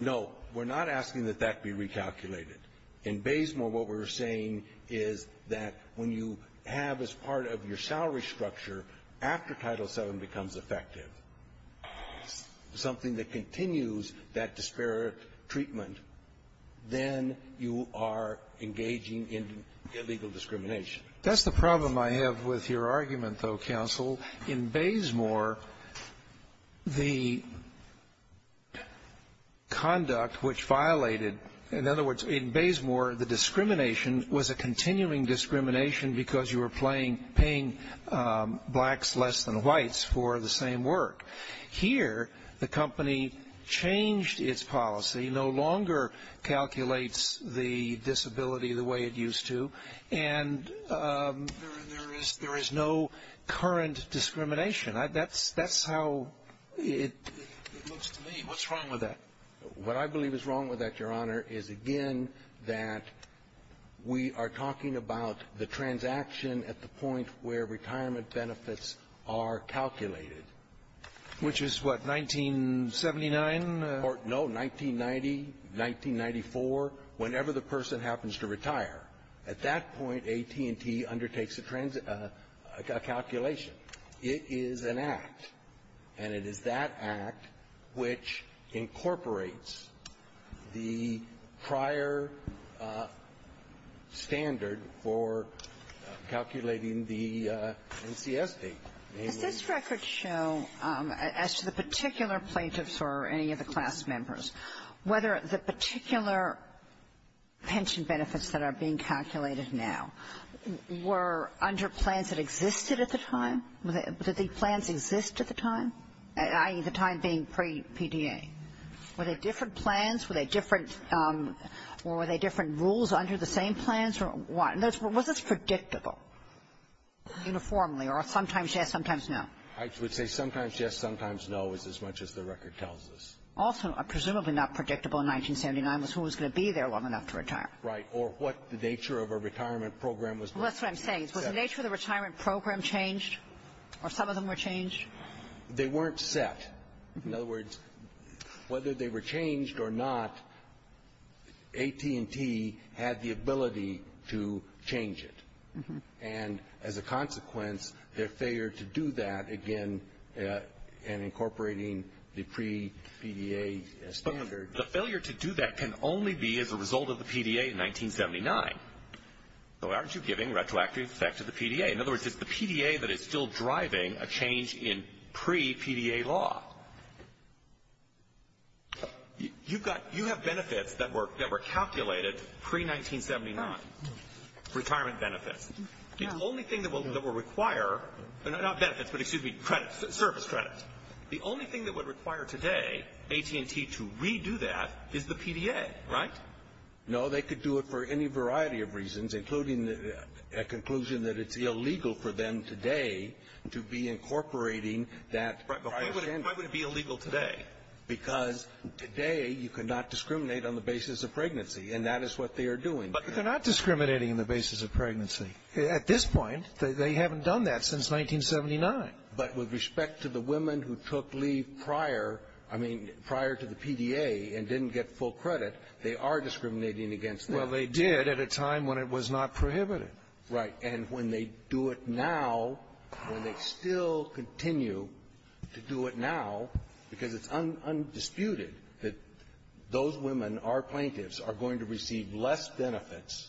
No. We're not asking that that be recalculated. In Baysmore, what we're saying is that when you have as part of your salary structure, after Title VII becomes effective, something that continues that disparate treatment, then you are engaging in illegal discrimination. That's the problem I have with your argument, though, counsel. In Baysmore, the conduct which violated — in other words, in Baysmore, the discrimination was a continuing discrimination because you were playing — paying blacks less than whites for the same work. Here, the company changed its policy, no longer calculates the disability the way it used to, and there is — there is no current discrimination. That's — that's how it looks to me. What's wrong with that? What I believe is wrong with that, Your Honor, is, again, that we are talking about the transaction at the point where retirement benefits are calculated. Which is what, 1979? No. 1990, 1994, whenever the person happens to retire. At that point, AT&T undertakes a calculation. It is an act, and it is that act which incorporates the prior standard for calculating the NCS date. Does this record show, as to the particular plaintiffs or any of the class members, whether the particular pension benefits that are being calculated now were under plans that existed at the time? Did the plans exist at the time, i.e., the time being pre-PDA? Were they different plans? Were they different — or were they different rules under the same plans? Was this predictable, uniformly, or sometimes yes, sometimes no? I would say sometimes yes, sometimes no is as much as the record tells us. Also, presumably not predictable in 1979 was who was going to be there long enough to retire. Right. Or what the nature of a retirement program was. Well, that's what I'm saying. Was the nature of the retirement program changed, or some of them were changed? They weren't set. In other words, whether they were changed or not, AT&T had the ability to change it, and as a consequence, their failure to do that, again, in incorporating the pre-PDA standard. But the failure to do that can only be as a result of the PDA in 1979. So aren't you giving retroactive effect to the PDA? In other words, it's the PDA that is still driving a change in pre-PDA law. You've got — you have benefits that were — that were calculated pre-1979, retirement benefits. The only thing that will — that will require — not benefits, but excuse me, credits, service credits. The only thing that would require today AT&T to redo that is the PDA, right? No, they could do it for any variety of reasons, including a conclusion that it's going to be illegal for them today to be incorporating that prior standard. But why would it be illegal today? Because today you cannot discriminate on the basis of pregnancy, and that is what they are doing. But they're not discriminating on the basis of pregnancy. At this point, they haven't done that since 1979. But with respect to the women who took leave prior, I mean, prior to the PDA and didn't get full credit, they are discriminating against them. Well, they did at a time when it was not prohibited. Right. And when they do it now, when they still continue to do it now, because it's undisputed that those women are plaintiffs, are going to receive less benefits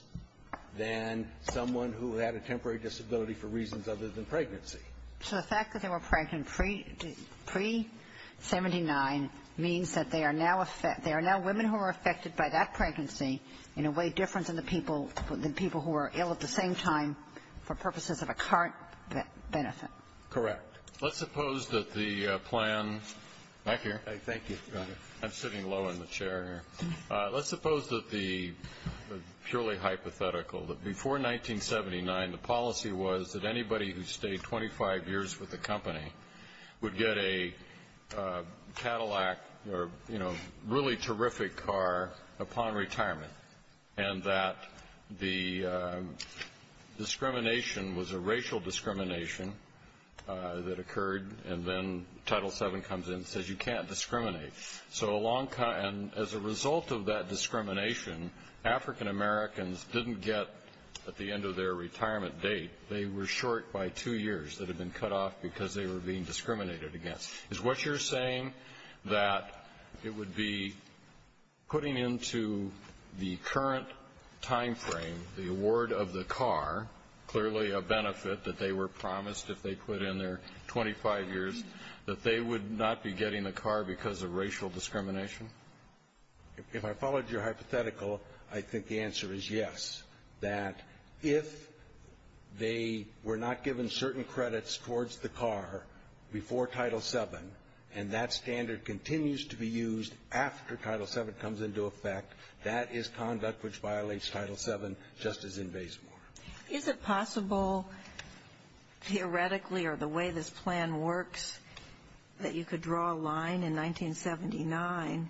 than someone who had a temporary disability for reasons other than pregnancy. So the fact that they were pregnant pre-79 means that they are now — they are now women who are affected by that pregnancy in a way different than the people — than the people who were pre-79 for purposes of a current benefit. Correct. Let's suppose that the plan — back here. Thank you. Go ahead. I'm sitting low in the chair here. Let's suppose that the — purely hypothetical, that before 1979, the policy was that anybody who stayed 25 years with the company would get a Cadillac or, you know, a really terrific car upon retirement, and that the discrimination was a racial discrimination that occurred, and then Title VII comes in and says you can't discriminate. So a long time — and as a result of that discrimination, African Americans didn't get, at the end of their retirement date, they were short by two years that had been cut off because they were being discriminated against. Is what you're saying that it would be putting into the current timeframe the award of the car, clearly a benefit that they were promised if they quit in their 25 years, that they would not be getting a car because of racial discrimination? If I followed your hypothetical, I think the answer is yes, that if they were not given certain credits towards the car before Title VII, and that standard continues to be used after Title VII comes into effect, that is conduct which violates Title VII, just as in Basemore. Is it possible, theoretically, or the way this plan works, that you could draw a line in 1979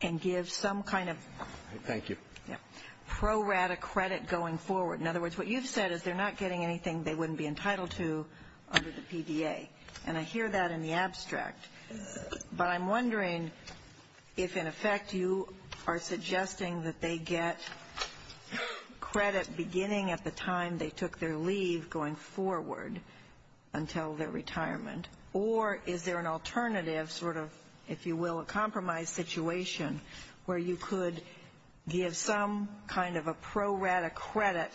and give some kind of — Thank you. Yeah. — pro-rata credit going forward? In other words, what you've said is they're not getting anything they wouldn't be entitled to under the PDA. And I hear that in the abstract. But I'm wondering if, in effect, you are suggesting that they get credit beginning at the time they took their leave going forward until their retirement. Or is there an alternative sort of, if you will, a compromise situation where you could give some kind of a pro-rata credit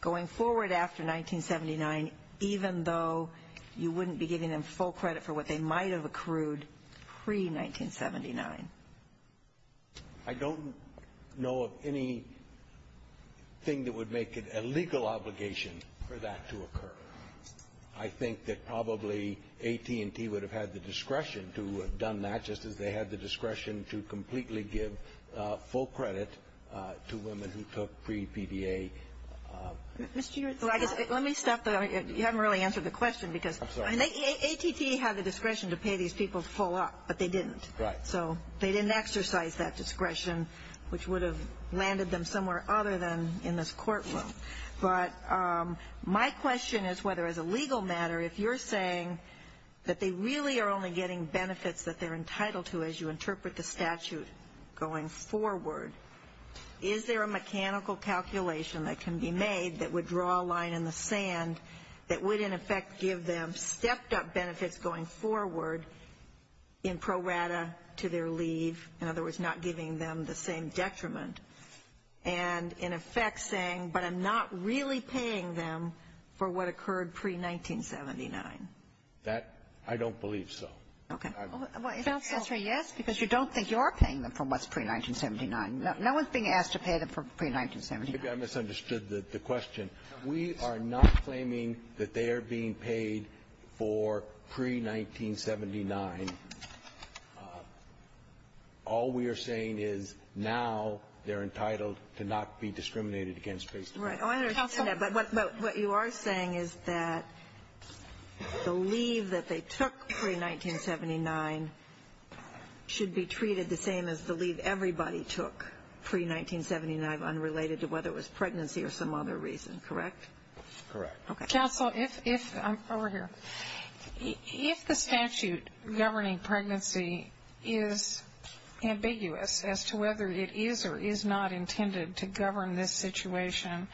going forward after 1979, even though you wouldn't be giving them full credit for what they might have accrued pre-1979? I don't know of anything that would make it a legal obligation for that to occur. I think that probably AT&T would have had the discretion to have done that, just as they had the discretion to completely give full credit to women who took pre-PDA — Mr. Eards, I guess — let me stop the — you haven't really answered the question, because — I'm sorry. AT&T had the discretion to pay these people full up, but they didn't. Right. So they didn't exercise that discretion, which would have landed them somewhere other than in this courtroom. But my question is whether, as a legal matter, if you're saying that they really are only getting benefits that they're entitled to as you interpret the statute going forward, is there a mechanical calculation that can be made that would draw a line in the sand that would, in effect, give them stepped-up benefits going forward in pro-rata to their leave — in other words, not giving them the same detriment — and, in effect, saying, but I'm not really paying them for what occurred pre-1979? That, I don't believe so. Okay. Counsel — Answer yes, because you don't think you're paying them for what's pre-1979. No one's being asked to pay them for pre-1979. Maybe I misunderstood the question. We are not claiming that they are being paid for pre-1979. All we are saying is now they're entitled to not be discriminated against based upon. Right. I understand that. But what you are saying is that the leave that they took pre-1979 should be treated the same as the leave everybody took pre-1979, unrelated to whether it was pregnancy or some other reason. Correct? Correct. Counsel, if — over here — if the statute governing pregnancy is ambiguous as to whether it is or is not intended to govern this situation,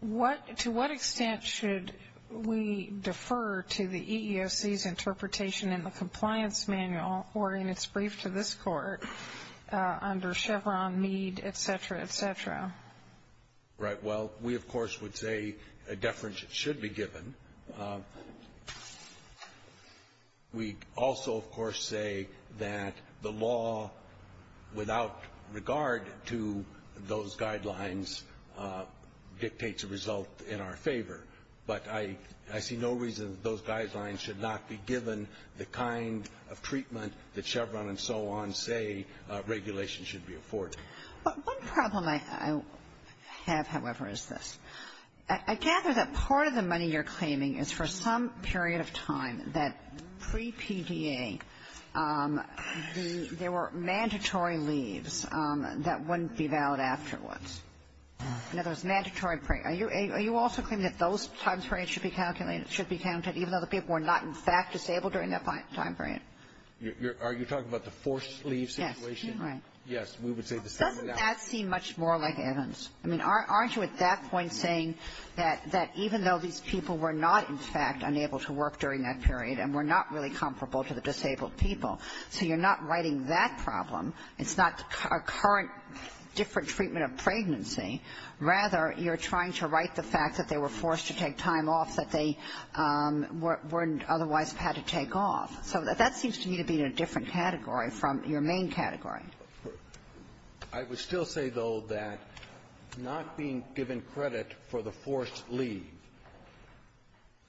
what — to what extent should we defer to the EEOC's interpretation in the Compliance Manual or in its brief to this Court under Chevron, Mead, et cetera, et cetera? Right. Well, we, of course, would say a deference should be given. We also, of course, say that the law without regard to those guidelines dictates a result in our favor. But I see no reason that those guidelines should not be given the kind of treatment that Chevron and so on say regulation should be afforded. But one problem I have, however, is this. I gather that part of the money you're claiming is for some period of time that pre-PDA the — there were mandatory leaves that wouldn't be valid afterwards. In other words, mandatory — are you also claiming that those times periods should be calculated — should be counted even though the people were not, in fact, disabled during that time period? Are you talking about the forced leave situation? Yes. Right. Yes. We would say the same thing. Doesn't that seem much more like Evans? I mean, aren't you at that point saying that even though these people were not, in fact, unable to work during that period and were not really comparable to the disabled people, so you're not writing that problem, it's not a current different treatment of pregnancy. Rather, you're trying to write the fact that they were forced to take time off that they weren't otherwise had to take off. So that seems to me to be in a different category from your main category. I would still say, though, that not being given credit for the forced leave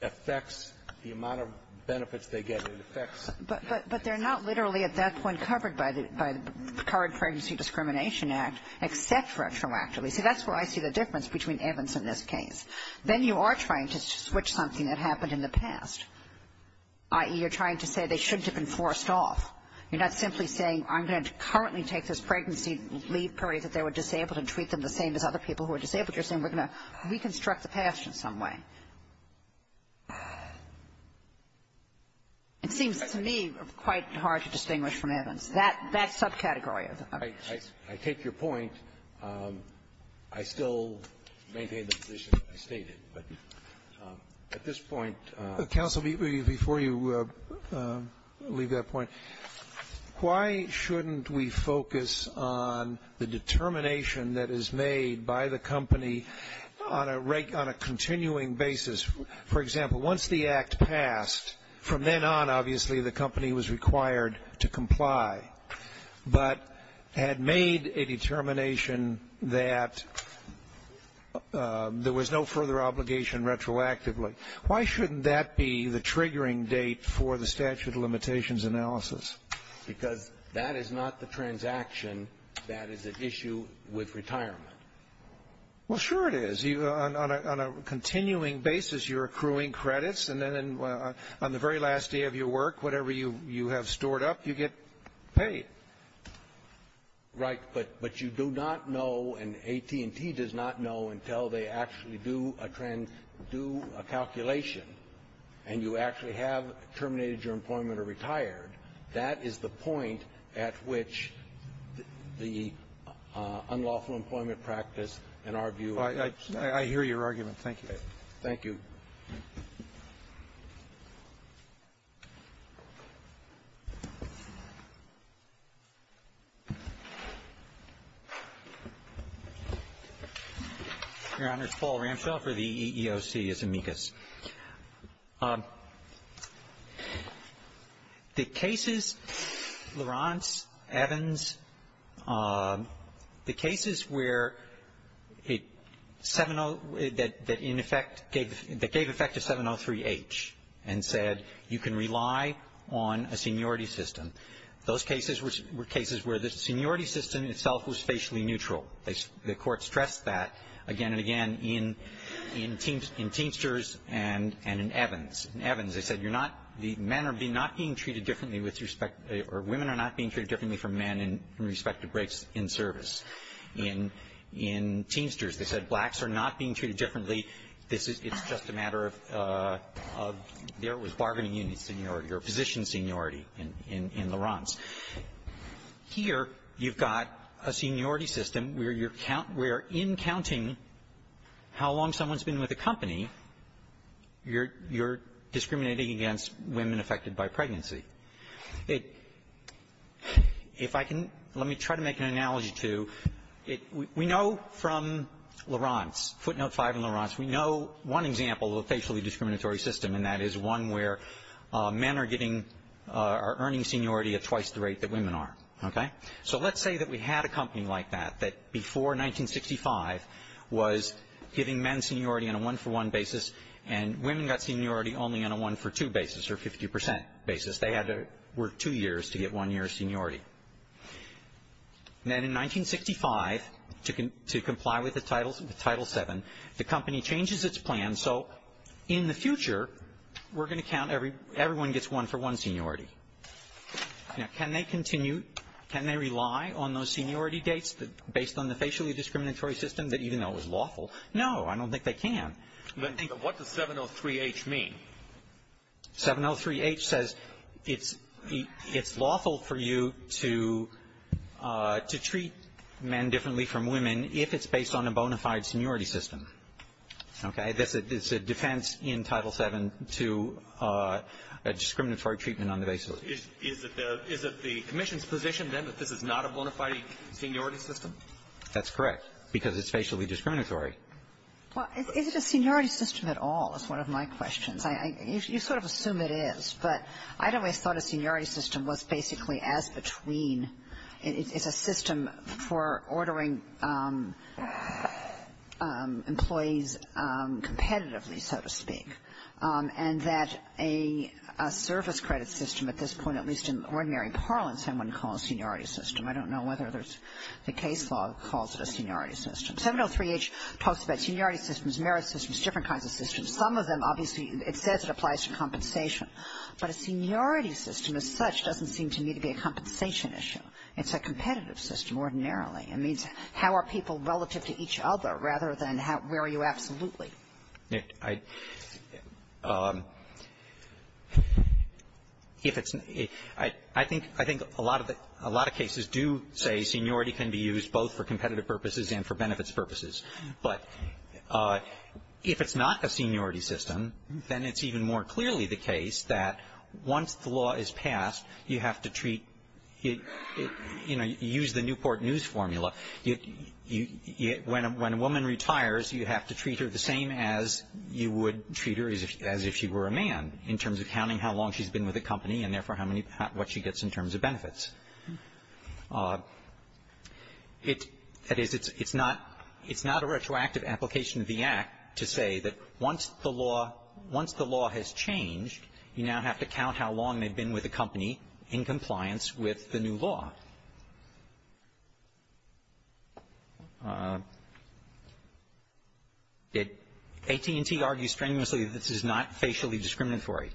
affects the amount of benefits they get. It affects — But they're not literally at that point covered by the current Pregnancy Discrimination Act, except retroactively. See, that's where I see the difference between Evans and this case. Then you are trying to switch something that happened in the past, i.e., you're trying to say they shouldn't have been forced off. You're not simply saying I'm going to currently take this pregnancy leave period that they were disabled and treat them the same as other people who are disabled. You're saying we're going to reconstruct the past in some way. It seems to me quite hard to distinguish from Evans. That subcategory of the case. I take your point. I still maintain the position I stated, but at this point — Counsel, before you leave that point, why shouldn't we focus on the determination that is made by the company on a continuing basis? For example, once the act passed, from then on, obviously, the company was required to comply but had made a determination that there was no further obligation retroactively. Why shouldn't that be the triggering date for the statute of limitations analysis? Because that is not the transaction. That is an issue with retirement. Well, sure it is. On a continuing basis, you're accruing credits. And then on the very last day of your work, whatever you have stored up, you get paid. Right. But you do not know, and AT&T does not know, until they actually do a trans — do a calculation and you actually have terminated your employment or retired. That is the point at which the unlawful employment practice, in our view — I hear your argument. Thank you. Your Honor, it's Paul Ramshaw for the EEOC as amicus. The cases, Laurance, Evans, the cases where it — 70 — that in effect gave — that gave effect to 703H and said you can rely on a seniority system. Those cases were cases where the seniority system itself was facially neutral. The Court stressed that again and again in Teamsters and in Evans. In Evans, they said you're not — men are not being treated differently with respect — or women are not being treated differently from men in respect to breaks in service. In Teamsters, they said blacks are not being treated differently. This is — it's just a matter of there was bargaining in seniority or position seniority in Laurance. Here, you've got a seniority system where you're — where in counting how long someone's been with a company, you're discriminating against women affected by pregnancy. It — if I can — let me try to make an analogy to — we know from Laurance, footnote 5 in Laurance, we know one example of a facially discriminatory system, and that is one where men are getting — are earning seniority at twice the rate that women are, okay? So let's say that we had a company like that, that before 1965 was giving men seniority on a one-for-one basis, and women got seniority only on a one-for-two basis or 50 percent basis. They had to work two years to get one year of seniority. Then in 1965, to comply with the Title VII, the company changes its plan so in the future, we're going to count every — everyone gets one-for-one seniority. Now, can they continue — can they rely on those seniority dates based on the facially discriminatory system that even though it was lawful? No, I don't think they can. Let me — But what does 703H mean? 703H says it's — it's lawful for you to — to treat men differently from women if it's based on a bona fide seniority system, okay? It's a defense in Title VII to a discriminatory treatment on the basis of — Is it the — is it the commission's position, then, that this is not a bona fide seniority system? That's correct, because it's facially discriminatory. Well, is it a seniority system at all is one of my questions. You sort of assume it is, but I'd always thought a seniority system was basically as competitively, so to speak, and that a — a service credit system at this point, at least in ordinary parlance, I wouldn't call a seniority system. I don't know whether there's — the case law calls it a seniority system. 703H talks about seniority systems, merit systems, different kinds of systems. Some of them, obviously, it says it applies to compensation, but a seniority system as such doesn't seem to me to be a compensation issue. It's a competitive system, ordinarily. It means how are people relative to each other rather than how — where are you absolutely? I — if it's — I think — I think a lot of the — a lot of cases do say seniority can be used both for competitive purposes and for benefits purposes. But if it's not a seniority system, then it's even more clearly the case that once the law is passed, you have to treat — you know, use the Newport News formula when a woman retires, you have to treat her the same as you would treat her as if she were a man in terms of counting how long she's been with a company and, therefore, how many — what she gets in terms of benefits. It — that is, it's not — it's not a retroactive application of the Act to say that once the law — once the law has changed, you now have to count how long they've been with a company in compliance with the new law. AT&T argues strenuously this is not facially discriminatory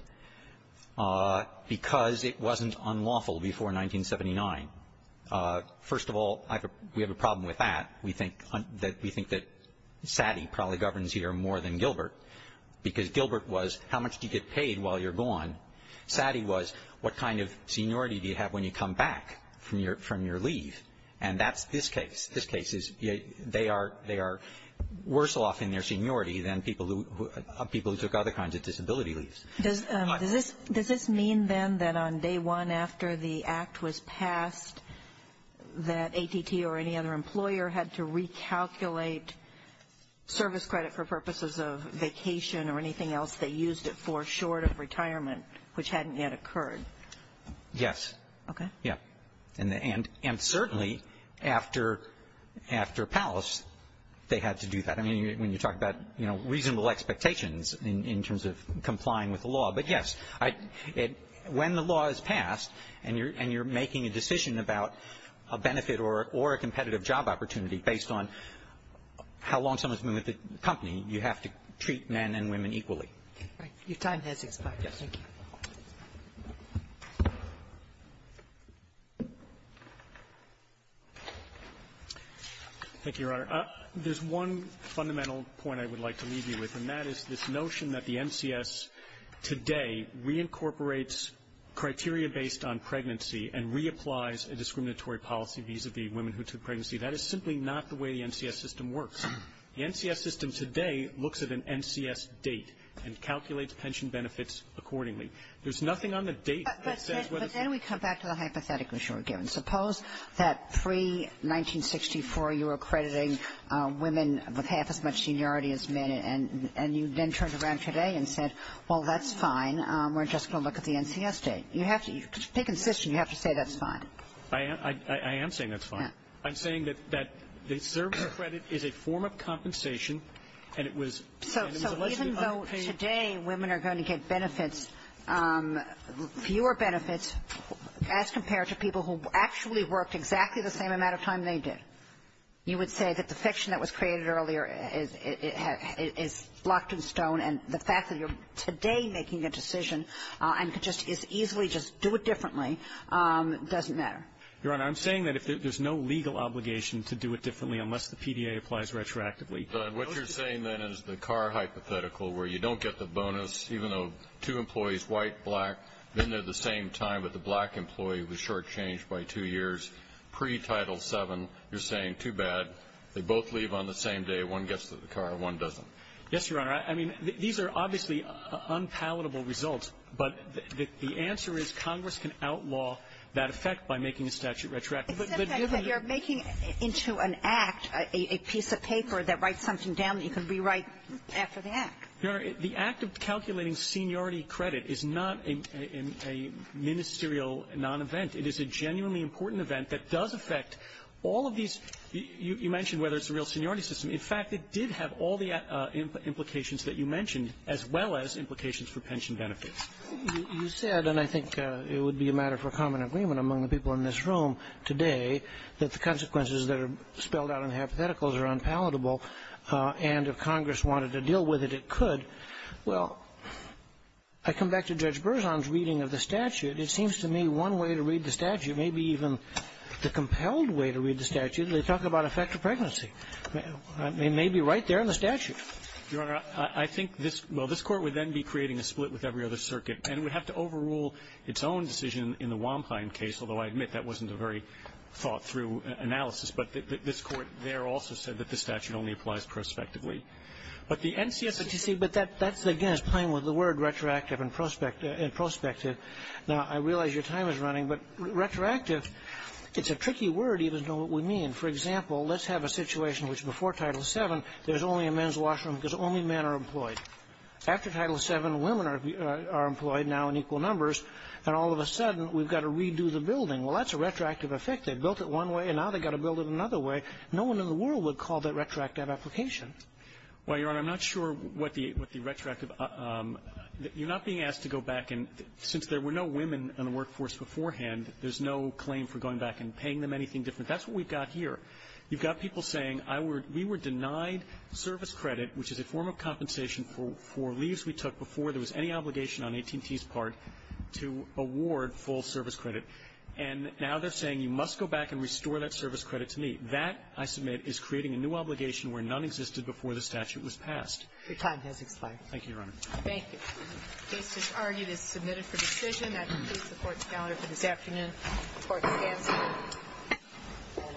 because it wasn't unlawful before 1979. First of all, I have a — we have a problem with that. We think that — we think that Satie probably governs here more than Gilbert because Gilbert was how much do you get paid while you're gone? Satie was what kind of seniority do you have when you come back from your — from your leave? And that's this case. This case is — they are — they are worse off in their seniority than people who — people who took other kinds of disability leaves. Does this — does this mean, then, that on day one after the Act was passed, that AT&T or any other employer had to recalculate service credit for purposes of vacation or anything else they used it for short of retirement, which hadn't yet occurred? Yes. Okay. Yeah. And the — and certainly after — after Palace, they had to do that. I mean, when you talk about, you know, reasonable expectations in terms of complying with the law. But yes, I — when the law is passed and you're — and you're making a decision about a benefit or a competitive job opportunity based on how long someone's been with the company, you have to treat men and women equally. Right. Your time has expired. Yes. Thank you. Thank you, Your Honor. There's one fundamental point I would like to leave you with, and that is this notion that the NCS today reincorporates criteria based on pregnancy and reapplies a discriminatory policy vis-a-vis women who took pregnancy. That is simply not the way the NCS system works. The NCS system today looks at an NCS date and calculates pension benefits accordingly. There's nothing on the date that says whether — But then we come back to the hypotheticals you were given. Suppose that pre-1964, you were accrediting women with half as much seniority as men, and you then turned around today and said, well, that's fine. We're just going to look at the NCS date. You have to — to make an assist, you have to say that's fine. I am — I am saying that's fine. I'm saying that — that the service credit is a form of compensation, and it was — So — so even though today women are going to get benefits, fewer benefits, as compared to people who actually worked exactly the same amount of time they did. You would say that the fiction that was created earlier is — is blocked in stone, and the fact that you're today making a decision and could just as easily just do it differently doesn't matter. Your Honor, I'm saying that if there's no legal obligation to do it differently unless the PDA applies retroactively. But what you're saying, then, is the Carr hypothetical, where you don't get the bonus, even though two employees, white, black, been there the same time, but the black employee was shortchanged by two years pre-Title VII. You're saying too bad. They both leave on the same day. One gets to the car, one doesn't. Yes, Your Honor. I mean, these are obviously unpalatable results. But the answer is Congress can outlaw that effect by making a statute retroactive. But given — It's an effect that you're making into an act, a piece of paper that writes something down that you can rewrite after the act. Your Honor, the act of calculating seniority credit is not a — a ministerial non-event. It is a genuinely important event that does affect all of these — you mentioned whether it's a real seniority system. You said, and I think it would be a matter for common agreement among the people in this room today, that the consequences that are spelled out in the hypotheticals are unpalatable, and if Congress wanted to deal with it, it could. Well, I come back to Judge Berzon's reading of the statute. It seems to me one way to read the statute, maybe even the compelled way to read the statute, they talk about effective pregnancy. It may be right there in the statute. Your Honor, I think this — well, this Court would then be creating a split with every other circuit, and it would have to overrule its own decision in the Wampine case, although I admit that wasn't a very thought-through analysis. But this Court there also said that the statute only applies prospectively. But the NCSOTC — But that's, again, playing with the word retroactive and prospective. Now, I realize your time is running, but retroactive, it's a tricky word, even though we know what we mean. For example, let's have a situation which, before Title VII, there's only a men's washroom because only men are employed. After Title VII, women are employed now in equal numbers, and all of a sudden, we've got to redo the building. Well, that's a retroactive effect. They built it one way, and now they've got to build it another way. No one in the world would call that retroactive application. Well, Your Honor, I'm not sure what the — what the retroactive — you're not being asked to go back and — since there were no women in the workforce beforehand, there's no claim for going back and paying them anything different. That's what we've got here. You've got people saying, I were — we were denied service credit, which is a form of compensation for — for leaves we took before there was any obligation on AT&T's part to award full service credit. And now they're saying you must go back and restore that service credit to me. That, I submit, is creating a new obligation where none existed before the statute was passed. Your time has expired. Thank you, Your Honor. Thank you. Case disargued is submitted for decision. I complete the Court's calendar for this afternoon. The Court stands adjourned. All rise.